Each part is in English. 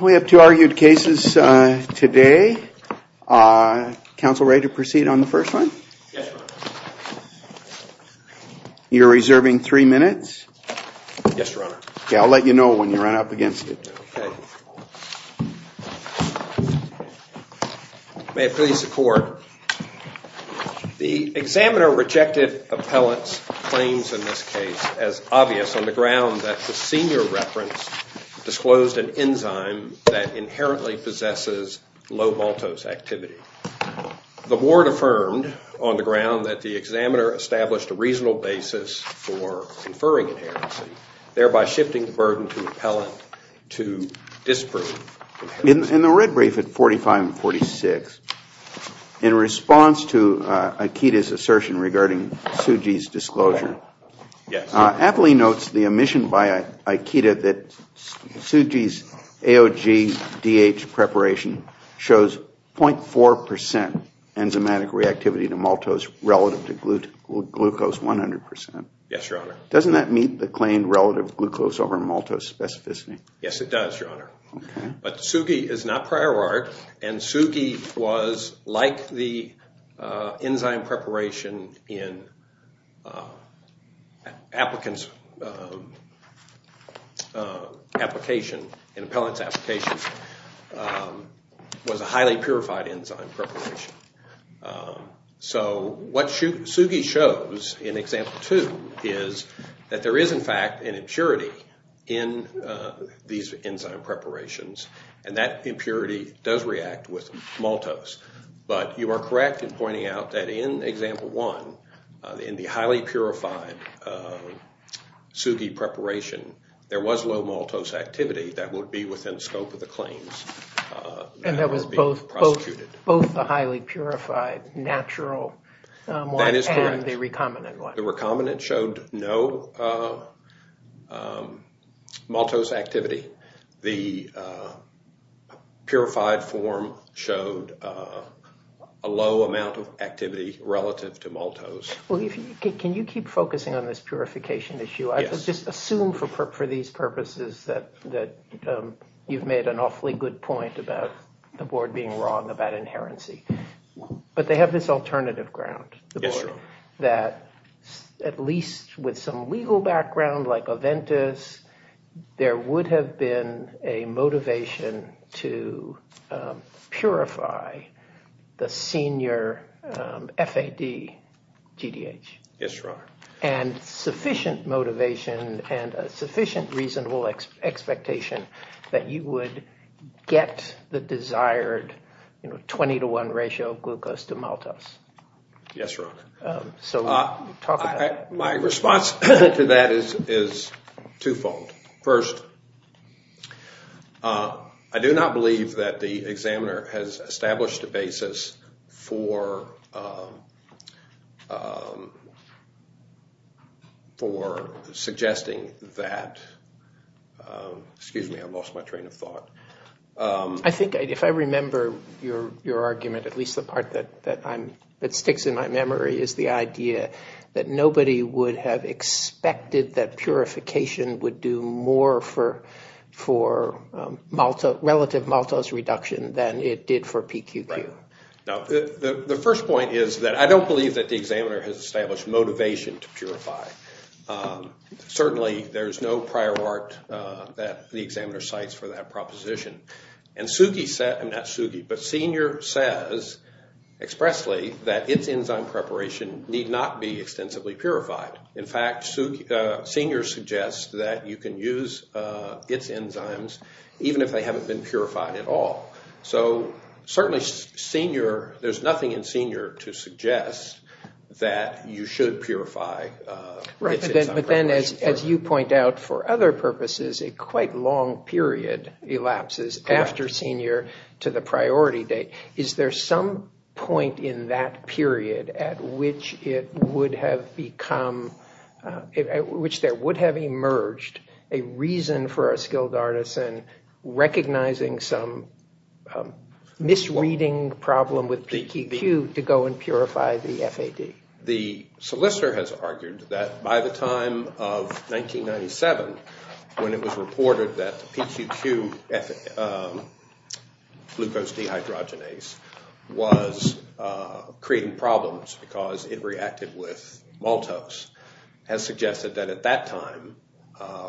We have two argued cases today. Counsel ready to proceed on the first one? Yes, Your Honor. You're reserving three minutes? Yes, Your Honor. Yeah, I'll let you know when you run up against it. Okay. May it please the Court. The examiner rejected appellant's claims in this case as obvious on the ground that the senior reference disclosed an enzyme that inherently possesses low maltose activity. The ward affirmed on the ground that the examiner established a reasonable basis for inferring inherency, thereby shifting the burden to appellant to disprove. In the red brief at 45 and 46, in response to Ikeda's assertion regarding Tsuji's disclosure, Appley notes the omission by Ikeda that Tsuji's AOG-DH preparation shows 0.4 percent enzymatic reactivity to maltose relative to glucose 100 percent. Yes, Your Honor. Doesn't that meet the claim relative glucose over maltose specificity? Yes, it does, Your Honor. But Tsuji is not prior art and Tsuji was like the enzyme preparation in appellant's application, was a highly purified enzyme preparation. So what Tsuji shows in example two is that there is in fact an impurity in these enzyme preparations and that impurity does react with maltose. But you are correct in pointing out that in example one, in the highly purified Tsuji preparation, there was low maltose activity that would be within the scope of the claims that were being prosecuted. Both the highly purified natural one and the recombinant one. That is correct. The recombinant showed no maltose activity. The purified form showed a low amount of activity relative to maltose. Well, can you keep focusing on this purification issue? Yes. I just assume for these purposes that you've made an awfully good point about the board being wrong about inherency. But they have this alternative ground. Yes, Your Honor. That at least with some legal background like Aventis, there would have been a motivation to purify the senior FAD GDH. Yes, Your Honor. And sufficient motivation and a sufficient reasonable expectation that you would get the desired 20 to 1 ratio of glucose to maltose. Yes, Your Honor. So talk about that. My response to that is twofold. First, I do not believe that the examiner has established a basis for suggesting that, excuse me, I lost my train of thought. I think if I remember your argument, at least the part that sticks in my memory, is the idea that nobody would have expected that purification would do more for relative maltose reduction than it did for PQQ. The first point is that I don't believe that the examiner has established motivation to purify. Certainly, there is no prior art that the examiner cites for that proposition. And SUGI, not SUGI, but Senior says expressly that its enzyme preparation need not be extensively purified. In fact, Senior suggests that you can use its enzymes even if they haven't been purified at all. So certainly Senior, there's nothing in Senior to suggest that you should purify its enzyme preparation. period elapses after Senior to the priority date. Is there some point in that period at which it would have become, at which there would have emerged a reason for a skilled artisan recognizing some misreading problem with PQQ to go and purify the FAD? The solicitor has argued that by the time of 1997, when it was reported that the PQQ glucose dehydrogenase was creating problems because it reacted with maltose, has suggested that at that time,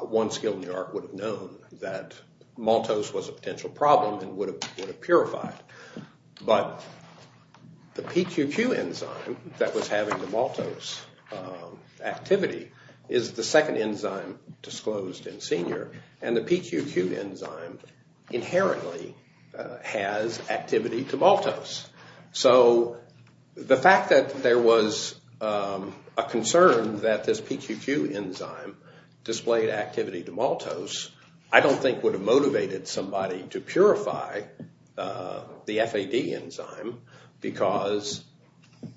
one skilled New York would have known that maltose was a potential problem and would have purified. But the PQQ enzyme that was having the maltose activity is the second enzyme disclosed in Senior and the PQQ enzyme inherently has activity to maltose. So the fact that there was a concern that this PQQ enzyme displayed activity to maltose, I don't think would have motivated somebody to purify the FAD enzyme because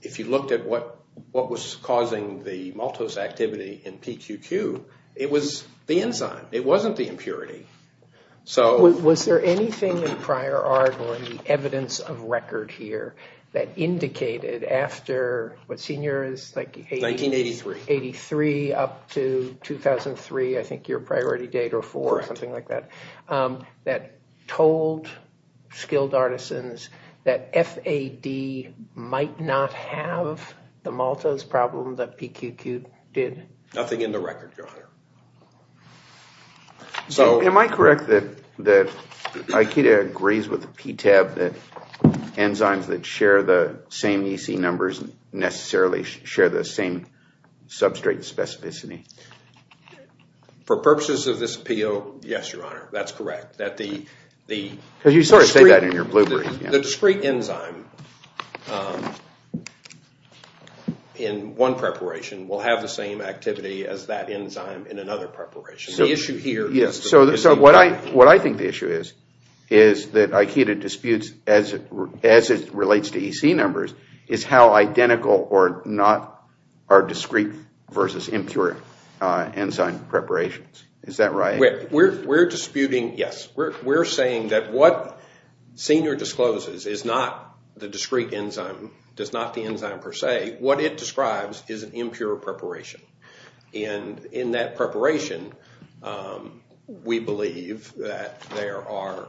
if you looked at what was causing the maltose activity in PQQ, it was the enzyme. It wasn't the impurity. Was there anything in prior art or in the evidence of record here that indicated after what Senior is? 1983. 1983 up to 2003, I think your priority date or four or something like that, that told skilled artisans that FAD might not have the maltose problem that PQQ did? Nothing in the record, Your Honor. So am I correct that Aikida agrees with the PTAB that enzymes that share the same EC numbers necessarily share the same substrate specificity? For purposes of this appeal, yes, Your Honor. That's correct. Because you sort of say that in your bloopers. The discrete enzyme in one preparation will have the same activity as that enzyme in another preparation. The issue here is the discrete enzyme. What I think the issue is, is that Aikida disputes as it relates to EC numbers, is how identical or not are discrete versus impure enzyme preparations. Is that right? We're disputing, yes. We're saying that what Senior discloses is not the discrete enzyme, does not the enzyme per se. What it describes is an impure preparation. In that preparation, we believe that there are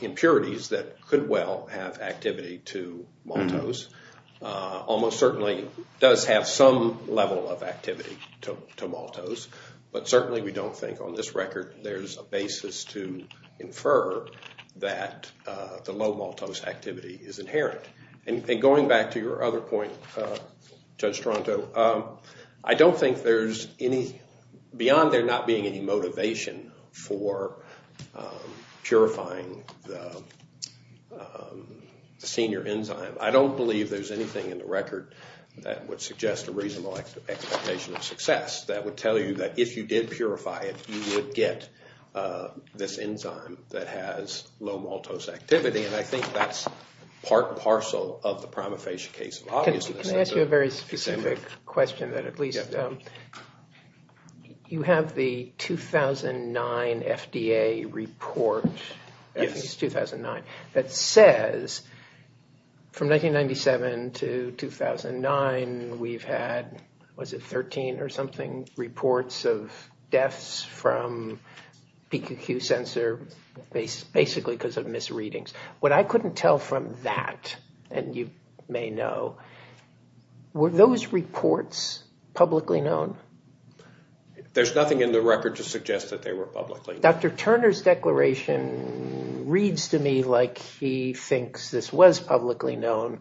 impurities that could well have activity to maltose, almost certainly does have some level of activity to maltose, but certainly we don't think on this record there's a basis to infer that the low maltose activity is inherent. Going back to your other point, Judge Stronto, I don't think there's any, beyond there not being any motivation for purifying the Senior enzyme, I don't believe there's anything in the record that would suggest a reasonable expectation of success that would tell you that if you did purify it, you would get this enzyme that has low maltose activity. And I think that's part and parcel of the prima facie case of obviousness. Can I ask you a very specific question that at least, you have the 2009 FDA report, I think it's 2009, that says from 1997 to 2009 we've had, was it 13 or something, reports of deaths from PQQ sensor, basically because of misreadings. What I couldn't tell from that, and you may know, were those reports publicly known? There's nothing in the record to suggest that they were publicly known. Dr. Turner's declaration reads to me like he thinks this was publicly known,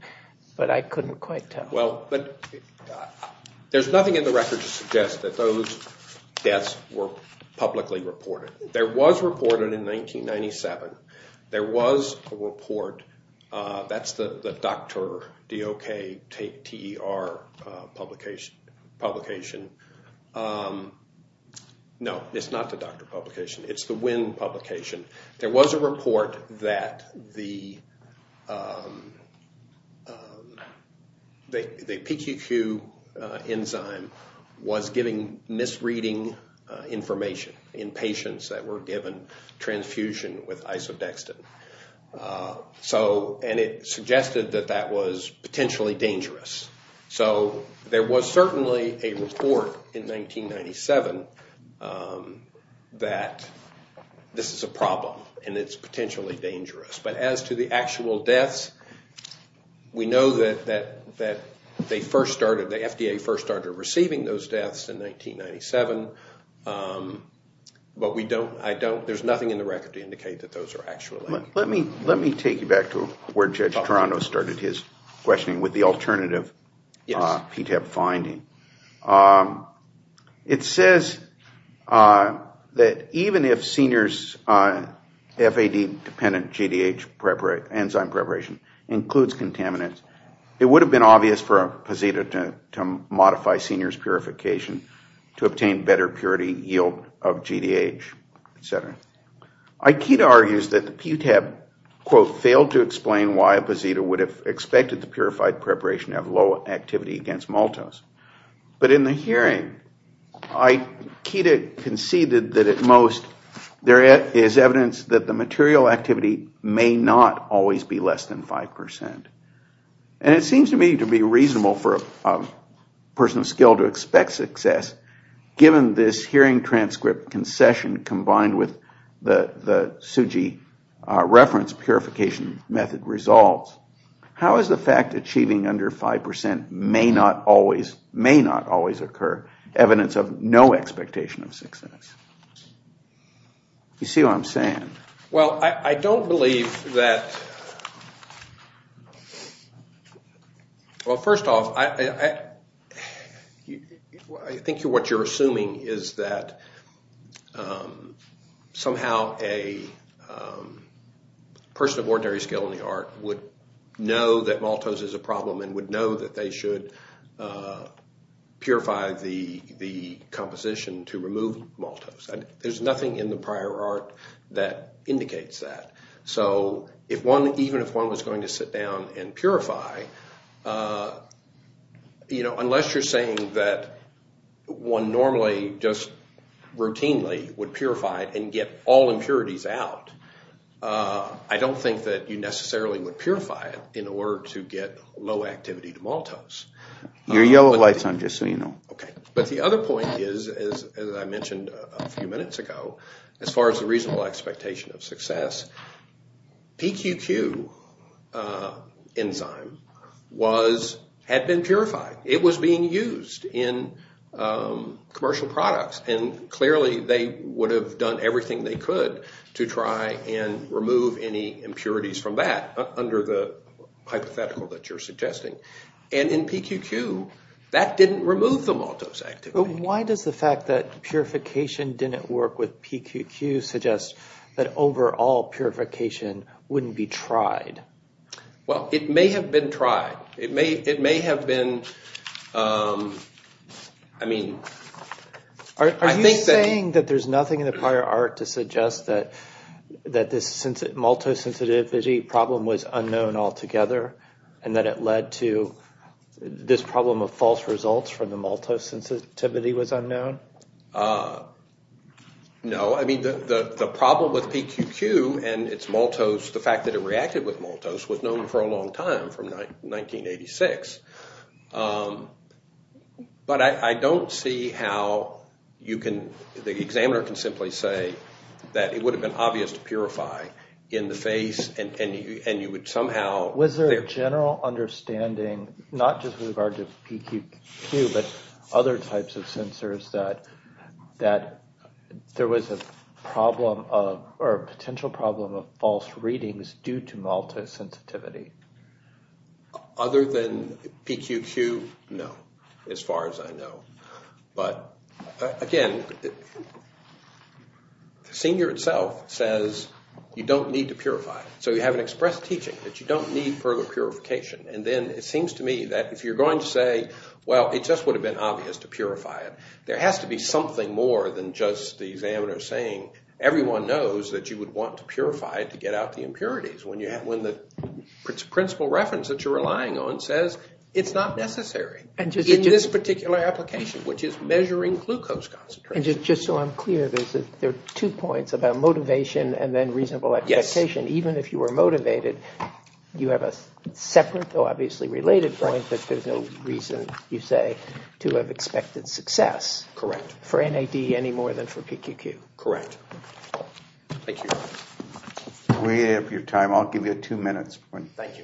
but I couldn't quite tell. Well, there's nothing in the record to suggest that those deaths were publicly reported. There was a report in 1997, there was a report, that's the Docter publication. No, it's not the Docter publication, it's the Winn publication. There was a report that the PQQ enzyme was giving misreading information in patients that were given transfusion with isodextrin. And it suggested that that was potentially dangerous. So there was certainly a report in 1997 that this is a problem and it's potentially dangerous. But as to the actual deaths, we know that they first started, the FDA first started receiving those deaths in 1997. But we don't, I don't, there's nothing in the record to indicate that those are actual deaths. Let me take you back to where Judge Toronto started his questioning with the alternative PTEP finding. It says that even if seniors' FAD-dependent GDH enzyme preparation includes contaminants, it would have been obvious for a posito to modify seniors' purification to obtain better purity yield of GDH, et cetera. Ikeda argues that the PTEP, quote, failed to explain why a posito would have expected the purified preparation to have low activity against maltose. But in the hearing, Ikeda conceded that at most there is evidence that the material activity may not always be less than 5%. And it seems to me to be reasonable for a person of skill to expect success, given this hearing transcript concession combined with the SUGI reference purification method results. How is the fact achieving under 5% may not always occur evidence of no expectation of success? Well, I don't believe that, well, first off, I think what you're assuming is that somehow a person of ordinary skill in the art would know that maltose is a problem and would know that they should purify the composition to remove maltose. There's nothing in the prior art that indicates that. So if one, even if one was going to sit down and purify, you know, unless you're saying that one normally just routinely would purify and get all impurities out, I don't think that you necessarily would purify it in order to get low activity to maltose. Your yellow light's on, just so you know. Okay, but the other point is, as I mentioned a few minutes ago, as far as the reasonable expectation of success, PQQ enzyme had been purified. It was being used in commercial products. And clearly they would have done everything they could to try and remove any impurities from that under the hypothetical that you're suggesting. And in PQQ, that didn't remove the maltose activity. Why does the fact that purification didn't work with PQQ suggest that overall purification wouldn't be tried? Well, it may have been tried. It may have been, I mean, I think that… And that it led to this problem of false results from the maltose sensitivity was unknown? No. I mean, the problem with PQQ and its maltose, the fact that it reacted with maltose, was known for a long time, from 1986. But I don't see how you can… The examiner can simply say that it would have been obvious to purify in the face, and you would somehow… Was there a general understanding, not just with regard to PQQ, but other types of sensors, that there was a problem or a potential problem of false readings due to maltose sensitivity? Other than PQQ, no, as far as I know. But, again, Senior itself says you don't need to purify. So you have an expressed teaching that you don't need further purification. And then it seems to me that if you're going to say, well, it just would have been obvious to purify it, there has to be something more than just the examiner saying, everyone knows that you would want to purify it to get out the impurities. When the principal reference that you're relying on says it's not necessary in this particular application, which is measuring glucose concentration. And just so I'm clear, there are two points about motivation and then reasonable expectation. Even if you were motivated, you have a separate, though obviously related point, that there's no reason, you say, to have expected success for NAD any more than for PQQ. Correct. Thank you. We have your time. I'll give you two minutes. Thank you.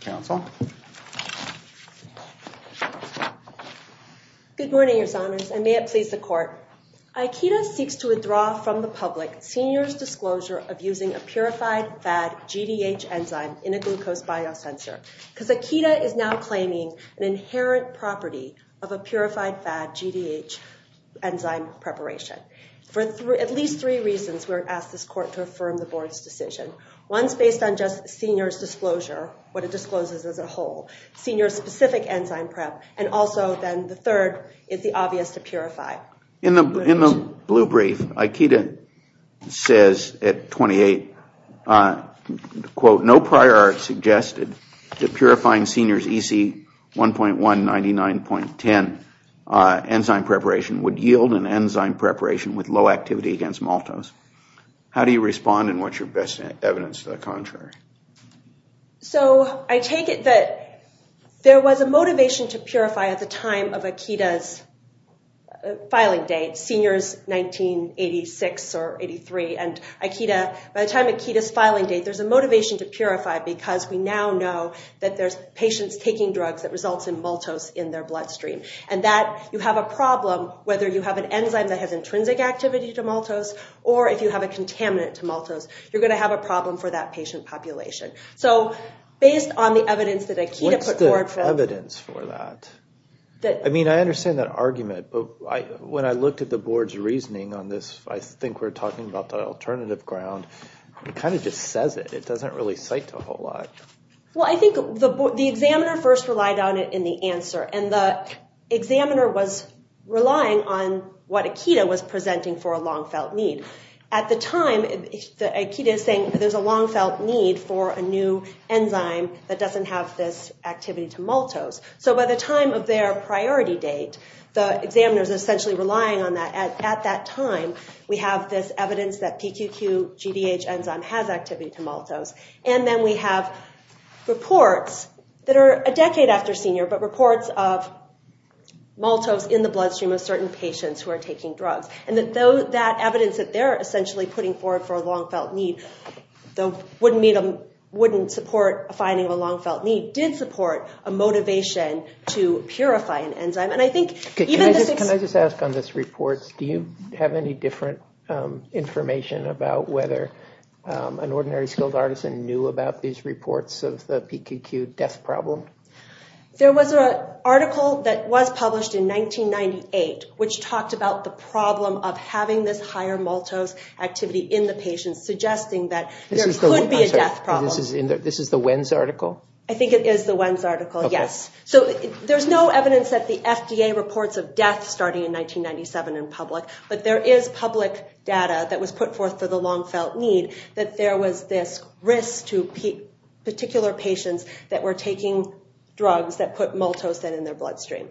Counsel. Good morning, Your Honors, and may it please the Court. Aikida seeks to withdraw from the public Senior's disclosure of using a purified fad GDH enzyme in a glucose biosensor. Because Aikida is now claiming an inherent property of a purified fad GDH enzyme preparation. For at least three reasons, we ask this Court to affirm the Board's decision. One is based on just Senior's disclosure, what it discloses as a whole, Senior's specific enzyme prep, and also then the third is the obvious to purify. In the blue brief, Aikida says at 28, quote, no prior art suggested that purifying Senior's EC 1.199.10 enzyme preparation would yield an enzyme preparation with low activity against maltose. How do you respond and what's your best evidence to the contrary? So I take it that there was a motivation to purify at the time of Aikida's filing date, Senior's 1986 or 83. And Aikida, by the time of Aikida's filing date, there's a motivation to purify because we now know that there's patients taking drugs that results in maltose in their bloodstream. And that you have a problem whether you have an enzyme that has intrinsic activity to maltose or if you have a contaminant to maltose, you're going to have a problem for that patient population. So based on the evidence that Aikida put forward for... What's the evidence for that? I mean, I understand that argument, but when I looked at the Board's reasoning on this, I think we're talking about the alternative ground, it kind of just says it. It doesn't really cite a whole lot. Well, I think the examiner first relied on it in the answer. And the examiner was relying on what Aikida was presenting for a long-felt need. At the time, Aikida is saying there's a long-felt need for a new enzyme that doesn't have this activity to maltose. So by the time of their priority date, the examiner is essentially relying on that. At that time, we have this evidence that PQQ GDH enzyme has activity to maltose. And then we have reports that are a decade after Senior, but reports of maltose in the bloodstream of certain patients who are taking drugs. And that evidence that they're essentially putting forward for a long-felt need, though wouldn't support a finding of a long-felt need, did support a motivation to purify an enzyme. And I think... Can I just ask on this report, do you have any different information about whether an ordinary skilled artisan knew about these reports of the PQQ death problem? There was an article that was published in 1998, which talked about the problem of having this higher maltose activity in the patient, suggesting that there could be a death problem. This is the WENS article? I think it is the WENS article, yes. So there's no evidence that the FDA reports of death starting in 1997 in public, but there is public data that was put forth for the long-felt need that there was this risk to particular patients that were taking drugs that put maltose in their bloodstream.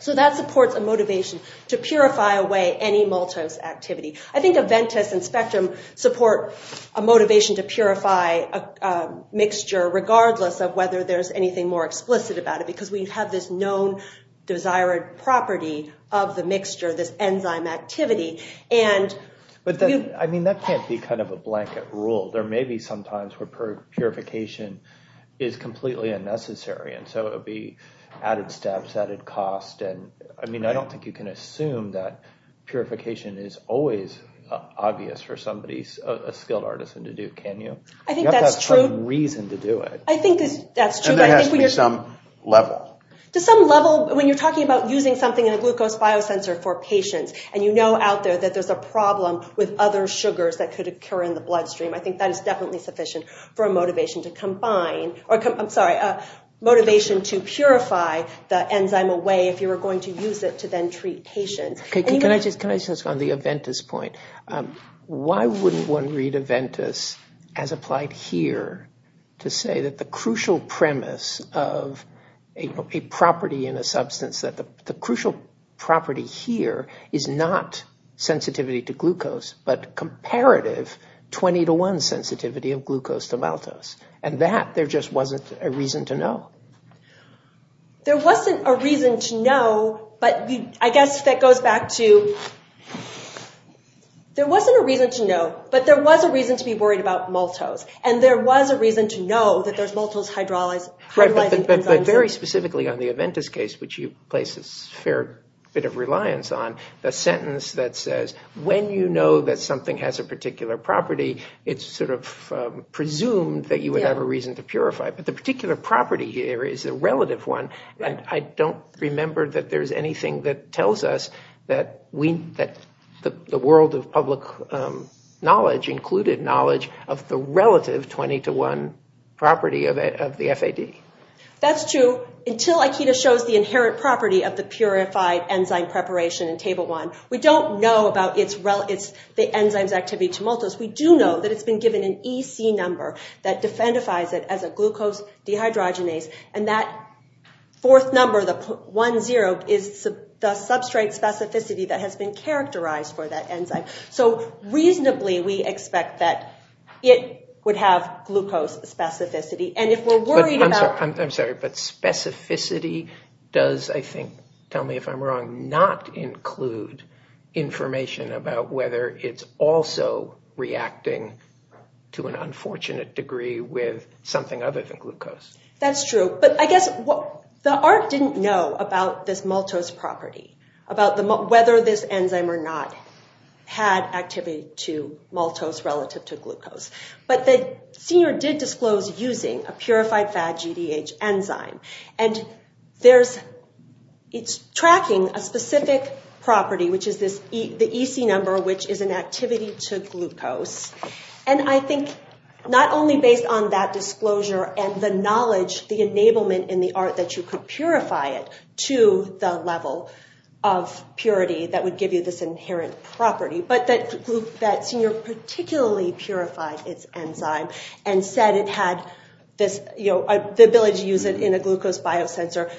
So that supports a motivation to purify away any maltose activity. I think Aventis and Spectrum support a motivation to purify a mixture, regardless of whether there's anything more explicit about it, because we have this known desired property of the mixture, this enzyme activity. But that can't be kind of a blanket rule. There may be some times where purification is completely unnecessary, and so it would be added steps, added cost. I don't think you can assume that purification is always obvious for somebody, a skilled artisan, to do, can you? I think that's true. You have to have some reason to do it. I think that's true. There has to be some level. To some level, when you're talking about using something in a glucose biosensor for patients, and you know out there that there's a problem with other sugars that could occur in the bloodstream, I think that is definitely sufficient for a motivation to combine, I'm sorry, a motivation to purify the enzyme away if you were going to use it to then treat patients. Can I just ask on the Aventis point, why wouldn't one read Aventis as applied here to say that the crucial premise of a property in a substance, that the crucial property here is not sensitivity to glucose, but comparative 20 to 1 sensitivity of glucose to maltose, and that there just wasn't a reason to know. There wasn't a reason to know, but I guess that goes back to there wasn't a reason to know, but there was a reason to be worried about maltose, and there was a reason to know that there's maltose hydrolyzing enzymes. But very specifically on the Aventis case, which you place a fair bit of reliance on, the sentence that says when you know that something has a particular property, it's sort of presumed that you would have a reason to purify it. The particular property here is a relative one, and I don't remember that there's anything that tells us that the world of public knowledge included knowledge of the relative 20 to 1 property of the FAD. That's true until Aikido shows the inherent property of the purified enzyme preparation in Table 1. We don't know about the enzyme's activity to maltose. We do know that it's been given an EC number that defendifies it as a glucose dehydrogenase, and that fourth number, the 1-0, is the substrate specificity that has been characterized for that enzyme. So reasonably we expect that it would have glucose specificity, and if we're worried about- I'm sorry, but specificity does, I think, tell me if I'm wrong, not include information about whether it's also reacting to an unfortunate degree with something other than glucose. That's true, but I guess the ARC didn't know about this maltose property, about whether this enzyme or not had activity to maltose relative to glucose, but the Senior did disclose using a purified FAD GDH enzyme, and it's tracking a specific property, which is the EC number, which is an activity to glucose, and I think not only based on that disclosure and the knowledge, the enablement in the ARC that you could purify it to the level of purity that would give you this inherent property, but that Senior particularly purified its enzyme and said it had the ability to use it in a glucose biosensor.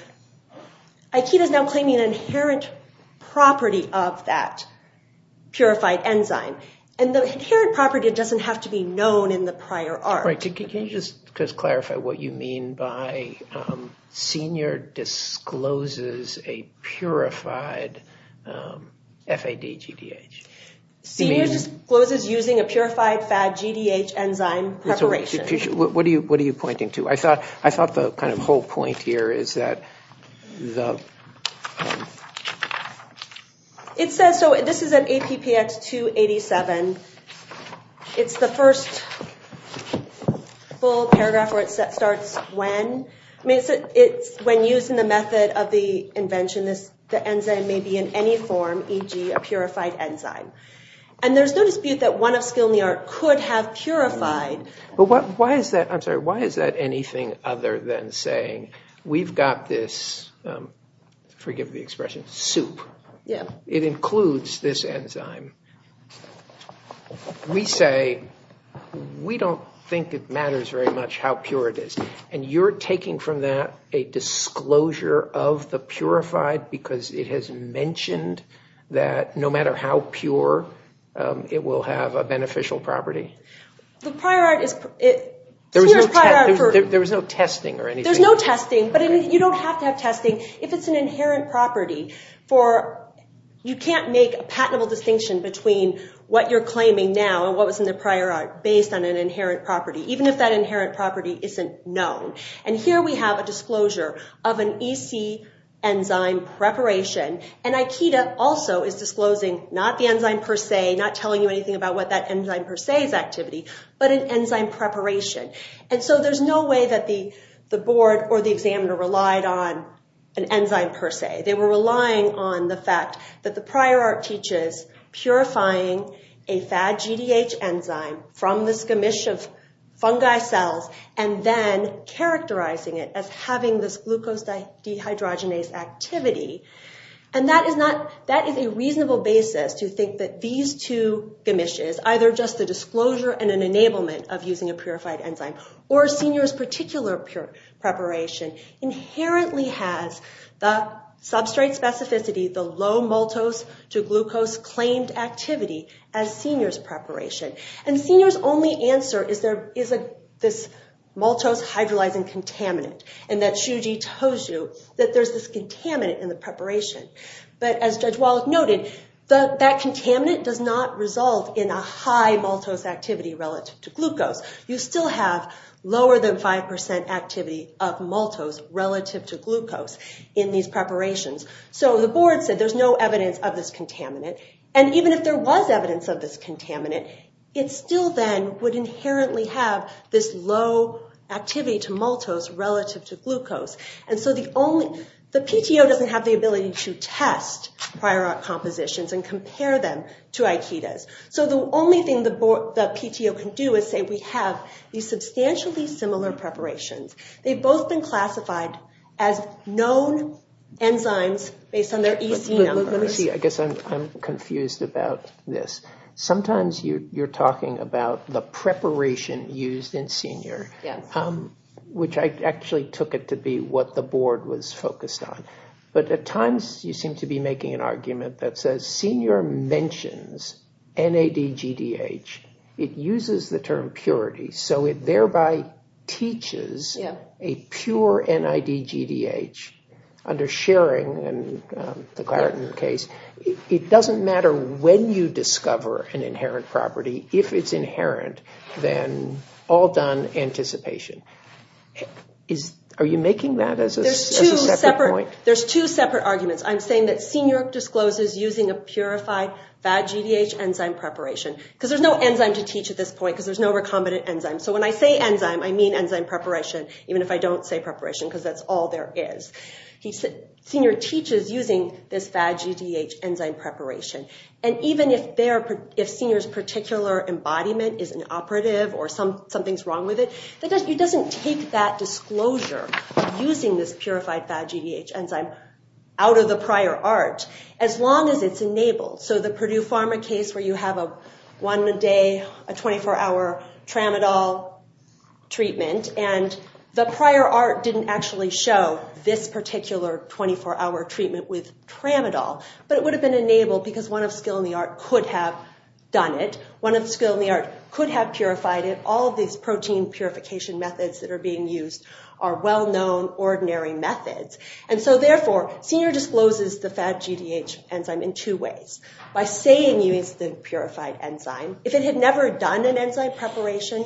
Aikido is now claiming an inherent property of that purified enzyme, and the inherent property doesn't have to be known in the prior ARC. Can you just clarify what you mean by Senior discloses a purified FAD GDH? Senior discloses using a purified FAD GDH enzyme preparation. What are you pointing to? I thought the kind of whole point here is that the... It says, so this is an APPX 287. It's the first full paragraph where it starts when. When used in the method of the invention, the enzyme may be in any form, e.g., a purified enzyme, and there's no dispute that one of skill in the ARC could have purified... But why is that anything other than saying we've got this, forgive the expression, soup. It includes this enzyme. We say we don't think it matters very much how pure it is, and you're taking from that a disclosure of the purified because it has mentioned that no matter how pure, it will have a beneficial property. The prior ARC is... There was no testing or anything. There's no testing, but you don't have to have testing if it's an inherent property. You can't make a patentable distinction between what you're claiming now and what was in the prior ARC based on an inherent property, even if that inherent property isn't known. Here we have a disclosure of an EC enzyme preparation, and IKEDA also is disclosing not the enzyme per se, not telling you anything about what that enzyme per se is activity, but an enzyme preparation. There's no way that the board or the examiner relied on an enzyme per se. They were relying on the fact that the prior ARC teaches purifying a FAD-GDH enzyme from this gamish of fungi cells and then characterizing it as having this glucose dehydrogenase activity, and that is a reasonable basis to think that these two gamishes, either just a disclosure and an enablement of using a purified enzyme or a senior's particular preparation, inherently has the substrate specificity, the low maltose-to-glucose claimed activity as senior's preparation. And senior's only answer is there is this maltose hydrolyzing contaminant, and that Shuji tells you that there's this contaminant in the preparation. But as Judge Wallach noted, that contaminant does not result in a high maltose activity relative to glucose. You still have lower than 5% activity of maltose relative to glucose in these preparations. So the board said there's no evidence of this contaminant, and even if there was evidence of this contaminant, it still then would inherently have this low activity to maltose relative to glucose. And so the PTO doesn't have the ability to test prior ARC compositions and compare them to Aikida's. So the only thing the PTO can do is say we have these substantially similar preparations. They've both been classified as known enzymes based on their EC numbers. Let me see. I guess I'm confused about this. Sometimes you're talking about the preparation used in senior, which I actually took it to be what the board was focused on. But at times you seem to be making an argument that says senior mentions NADGDH. It uses the term purity. So it thereby teaches a pure NADGDH under Schering and the Clareton case. It doesn't matter when you discover an inherent property. If it's inherent, then all done anticipation. Are you making that as a separate point? There's two separate arguments. I'm saying that senior discloses using a purified VADGDH enzyme preparation because there's no enzyme to teach at this point because there's no recombinant enzyme. So when I say enzyme, I mean enzyme preparation, even if I don't say preparation because that's all there is. Senior teaches using this VADGDH enzyme preparation. And even if senior's particular embodiment is inoperative or something's wrong with it, it doesn't take that disclosure using this purified VADGDH enzyme out of the prior ARC as long as it's enabled. So the Purdue Pharma case where you have one a day, a 24-hour tramadol treatment, and the prior ARC didn't actually show this particular 24-hour treatment with tramadol, but it would have been enabled because one of skill in the ARC could have done it. One of skill in the ARC could have purified it. All of these protein purification methods that are being used are well-known, ordinary methods. And so, therefore, Senior discloses the VADGDH enzyme in two ways. By saying it's the purified enzyme, if it had never done an enzyme preparation,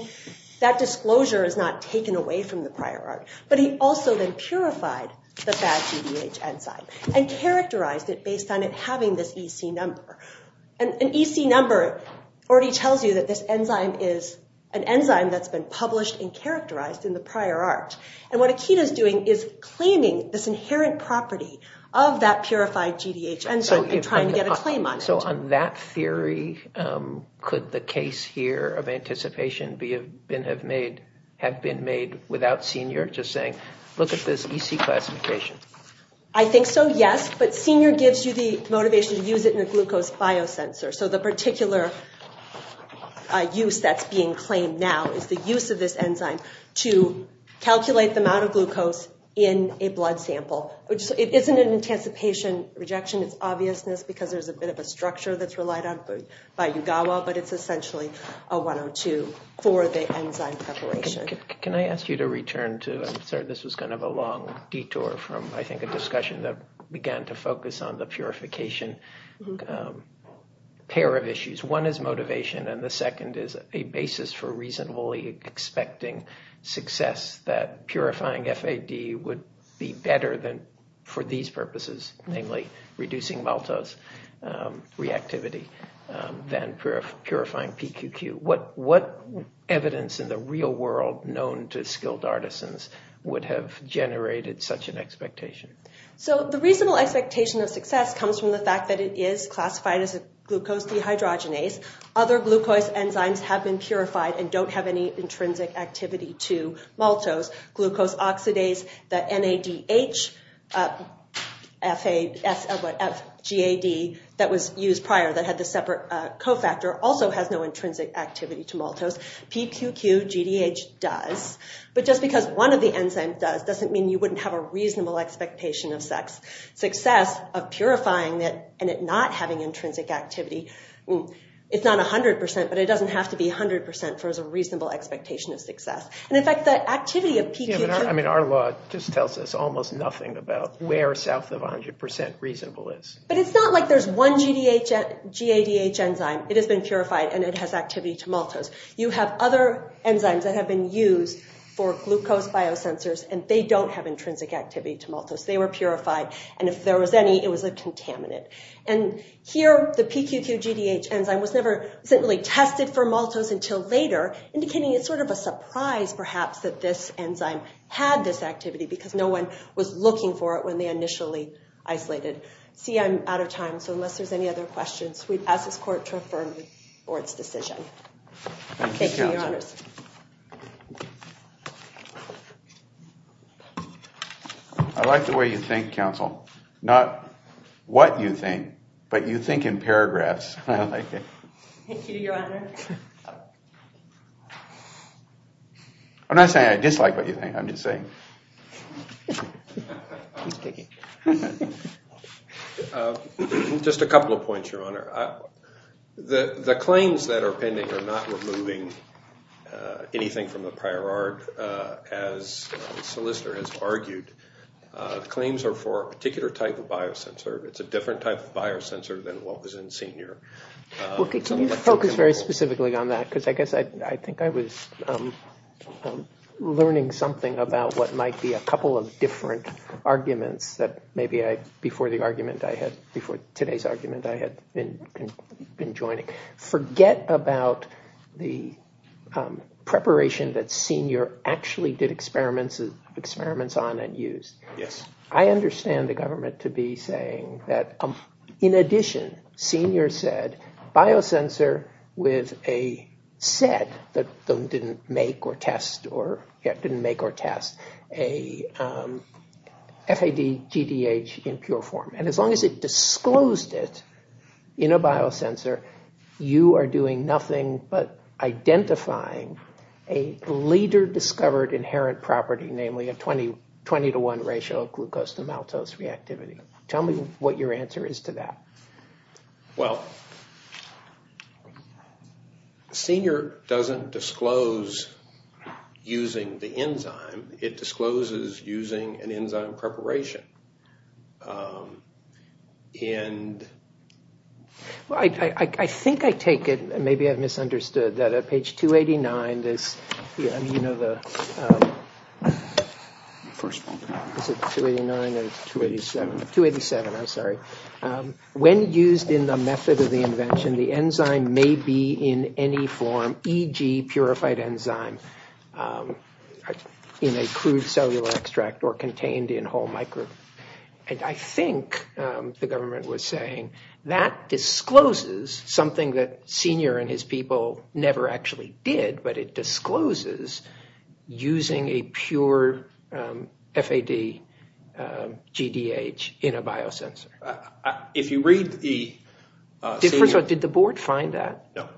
that disclosure is not taken away from the prior ARC. But he also then purified the VADGDH enzyme and characterized it based on it having this EC number. An EC number already tells you that this enzyme is an enzyme that's been published and characterized in the prior ARC. And what Akita is doing is claiming this inherent property of that purified GDH enzyme and trying to get a claim on it. So on that theory, could the case here of anticipation have been made without Senior just saying, look at this EC classification? I think so, yes. But Senior gives you the motivation to use it in a glucose biosensor. So the particular use that's being claimed now is the use of this enzyme to calculate the amount of glucose in a blood sample. It isn't an anticipation rejection. It's obviousness because there's a bit of a structure that's relied on by UGAWA. But it's essentially a 102 for the enzyme preparation. Can I ask you to return to, I'm sorry, this was kind of a long detour from, I think, a discussion that began to focus on the purification. A pair of issues. One is motivation, and the second is a basis for reasonably expecting success that purifying FAD would be better for these purposes, namely reducing maltose reactivity, than purifying PQQ. What evidence in the real world known to skilled artisans would have generated such an expectation? So the reasonable expectation of success comes from the fact that it is classified as a glucose dehydrogenase. Other glucose enzymes have been purified and don't have any intrinsic activity to maltose. Glucose oxidase, the NADH, FAD, that was used prior that had the separate cofactor, also has no intrinsic activity to maltose. PQQ, GDH does. But just because one of the enzymes does, doesn't mean you wouldn't have a reasonable expectation of success of purifying it and it not having intrinsic activity. It's not 100%, but it doesn't have to be 100% for a reasonable expectation of success. And in fact, the activity of PQQ... I mean, our law just tells us almost nothing about where south of 100% reasonable is. But it's not like there's one GADH enzyme, it has been purified, and it has activity to maltose. You have other enzymes that have been used for glucose biosensors, and they don't have intrinsic activity to maltose. They were purified, and if there was any, it was a contaminant. And here, the PQQ, GDH enzyme was never really tested for maltose until later, indicating it's sort of a surprise, perhaps, that this enzyme had this activity because no one was looking for it when they initially isolated. See, I'm out of time, so unless there's any other questions, we'd ask this court to affirm the court's decision. Thank you, Your Honors. I like the way you think, counsel. Not what you think, but you think in paragraphs. I like it. Thank you, Your Honor. I'm not saying I dislike what you think, I'm just saying. He's digging. Just a couple of points, Your Honor. The claims that are pending are not removing anything from the prior art, as the solicitor has argued. The claims are for a particular type of biosensor. It's a different type of biosensor than what was in Senior. Well, can you focus very specifically on that? Because I guess I think I was learning something about what might be a couple of different arguments that maybe before today's argument I had been joining. Forget about the preparation that Senior actually did experiments on and used. Yes. I understand the government to be saying that, in addition, Senior said biosensor with a set that didn't make or test a FAD-GDH in pure form. And as long as it disclosed it in a biosensor, you are doing nothing but identifying a leader-discovered inherent property, namely a 20-to-1 ratio of glucose to maltose reactivity. Tell me what your answer is to that. Well, Senior doesn't disclose using the enzyme. It discloses using an enzyme preparation. I think I take it, and maybe I've misunderstood, that at page 289, you know the first one. Is it 289 or 287? 287, I'm sorry. When used in the method of the invention, the enzyme may be in any form, e.g. purified enzyme in a crude cellular extract or contained in whole microbes. And I think the government was saying that discloses something that Senior and his people never actually did, but it discloses using a pure FAD-GDH in a biosensor. Did the board find that? No.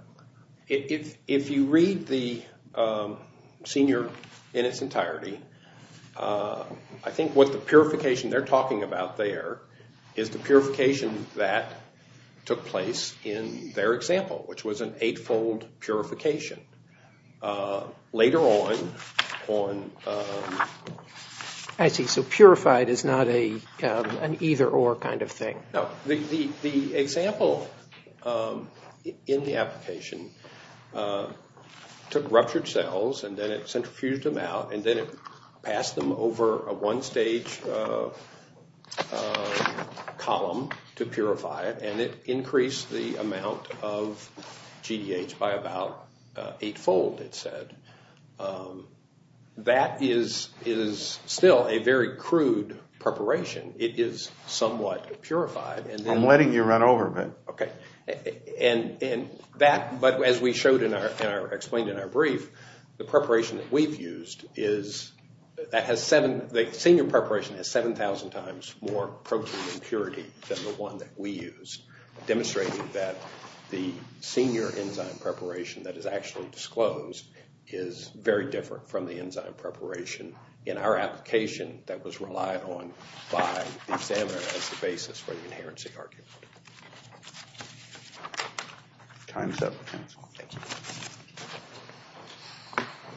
If you read the Senior in its entirety, I think what the purification they're talking about there is the purification that took place in their example, which was an eight-fold purification. Later on... I see. So purified is not an either-or kind of thing. No. The example in the application took ruptured cells, and then it centrifuged them out, and then it passed them over a one-stage column to purify it, and it increased the amount of GDH by about eight-fold, it said. That is still a very crude preparation. It is somewhat purified. I'm letting you run over a bit. Okay. But as we showed and explained in our brief, the preparation that we've used is... than the one that we used, demonstrating that the senior enzyme preparation that is actually disclosed is very different from the enzyme preparation in our application that was relied on by the examiner as the basis for the inherency argument. Time's up. Thank you.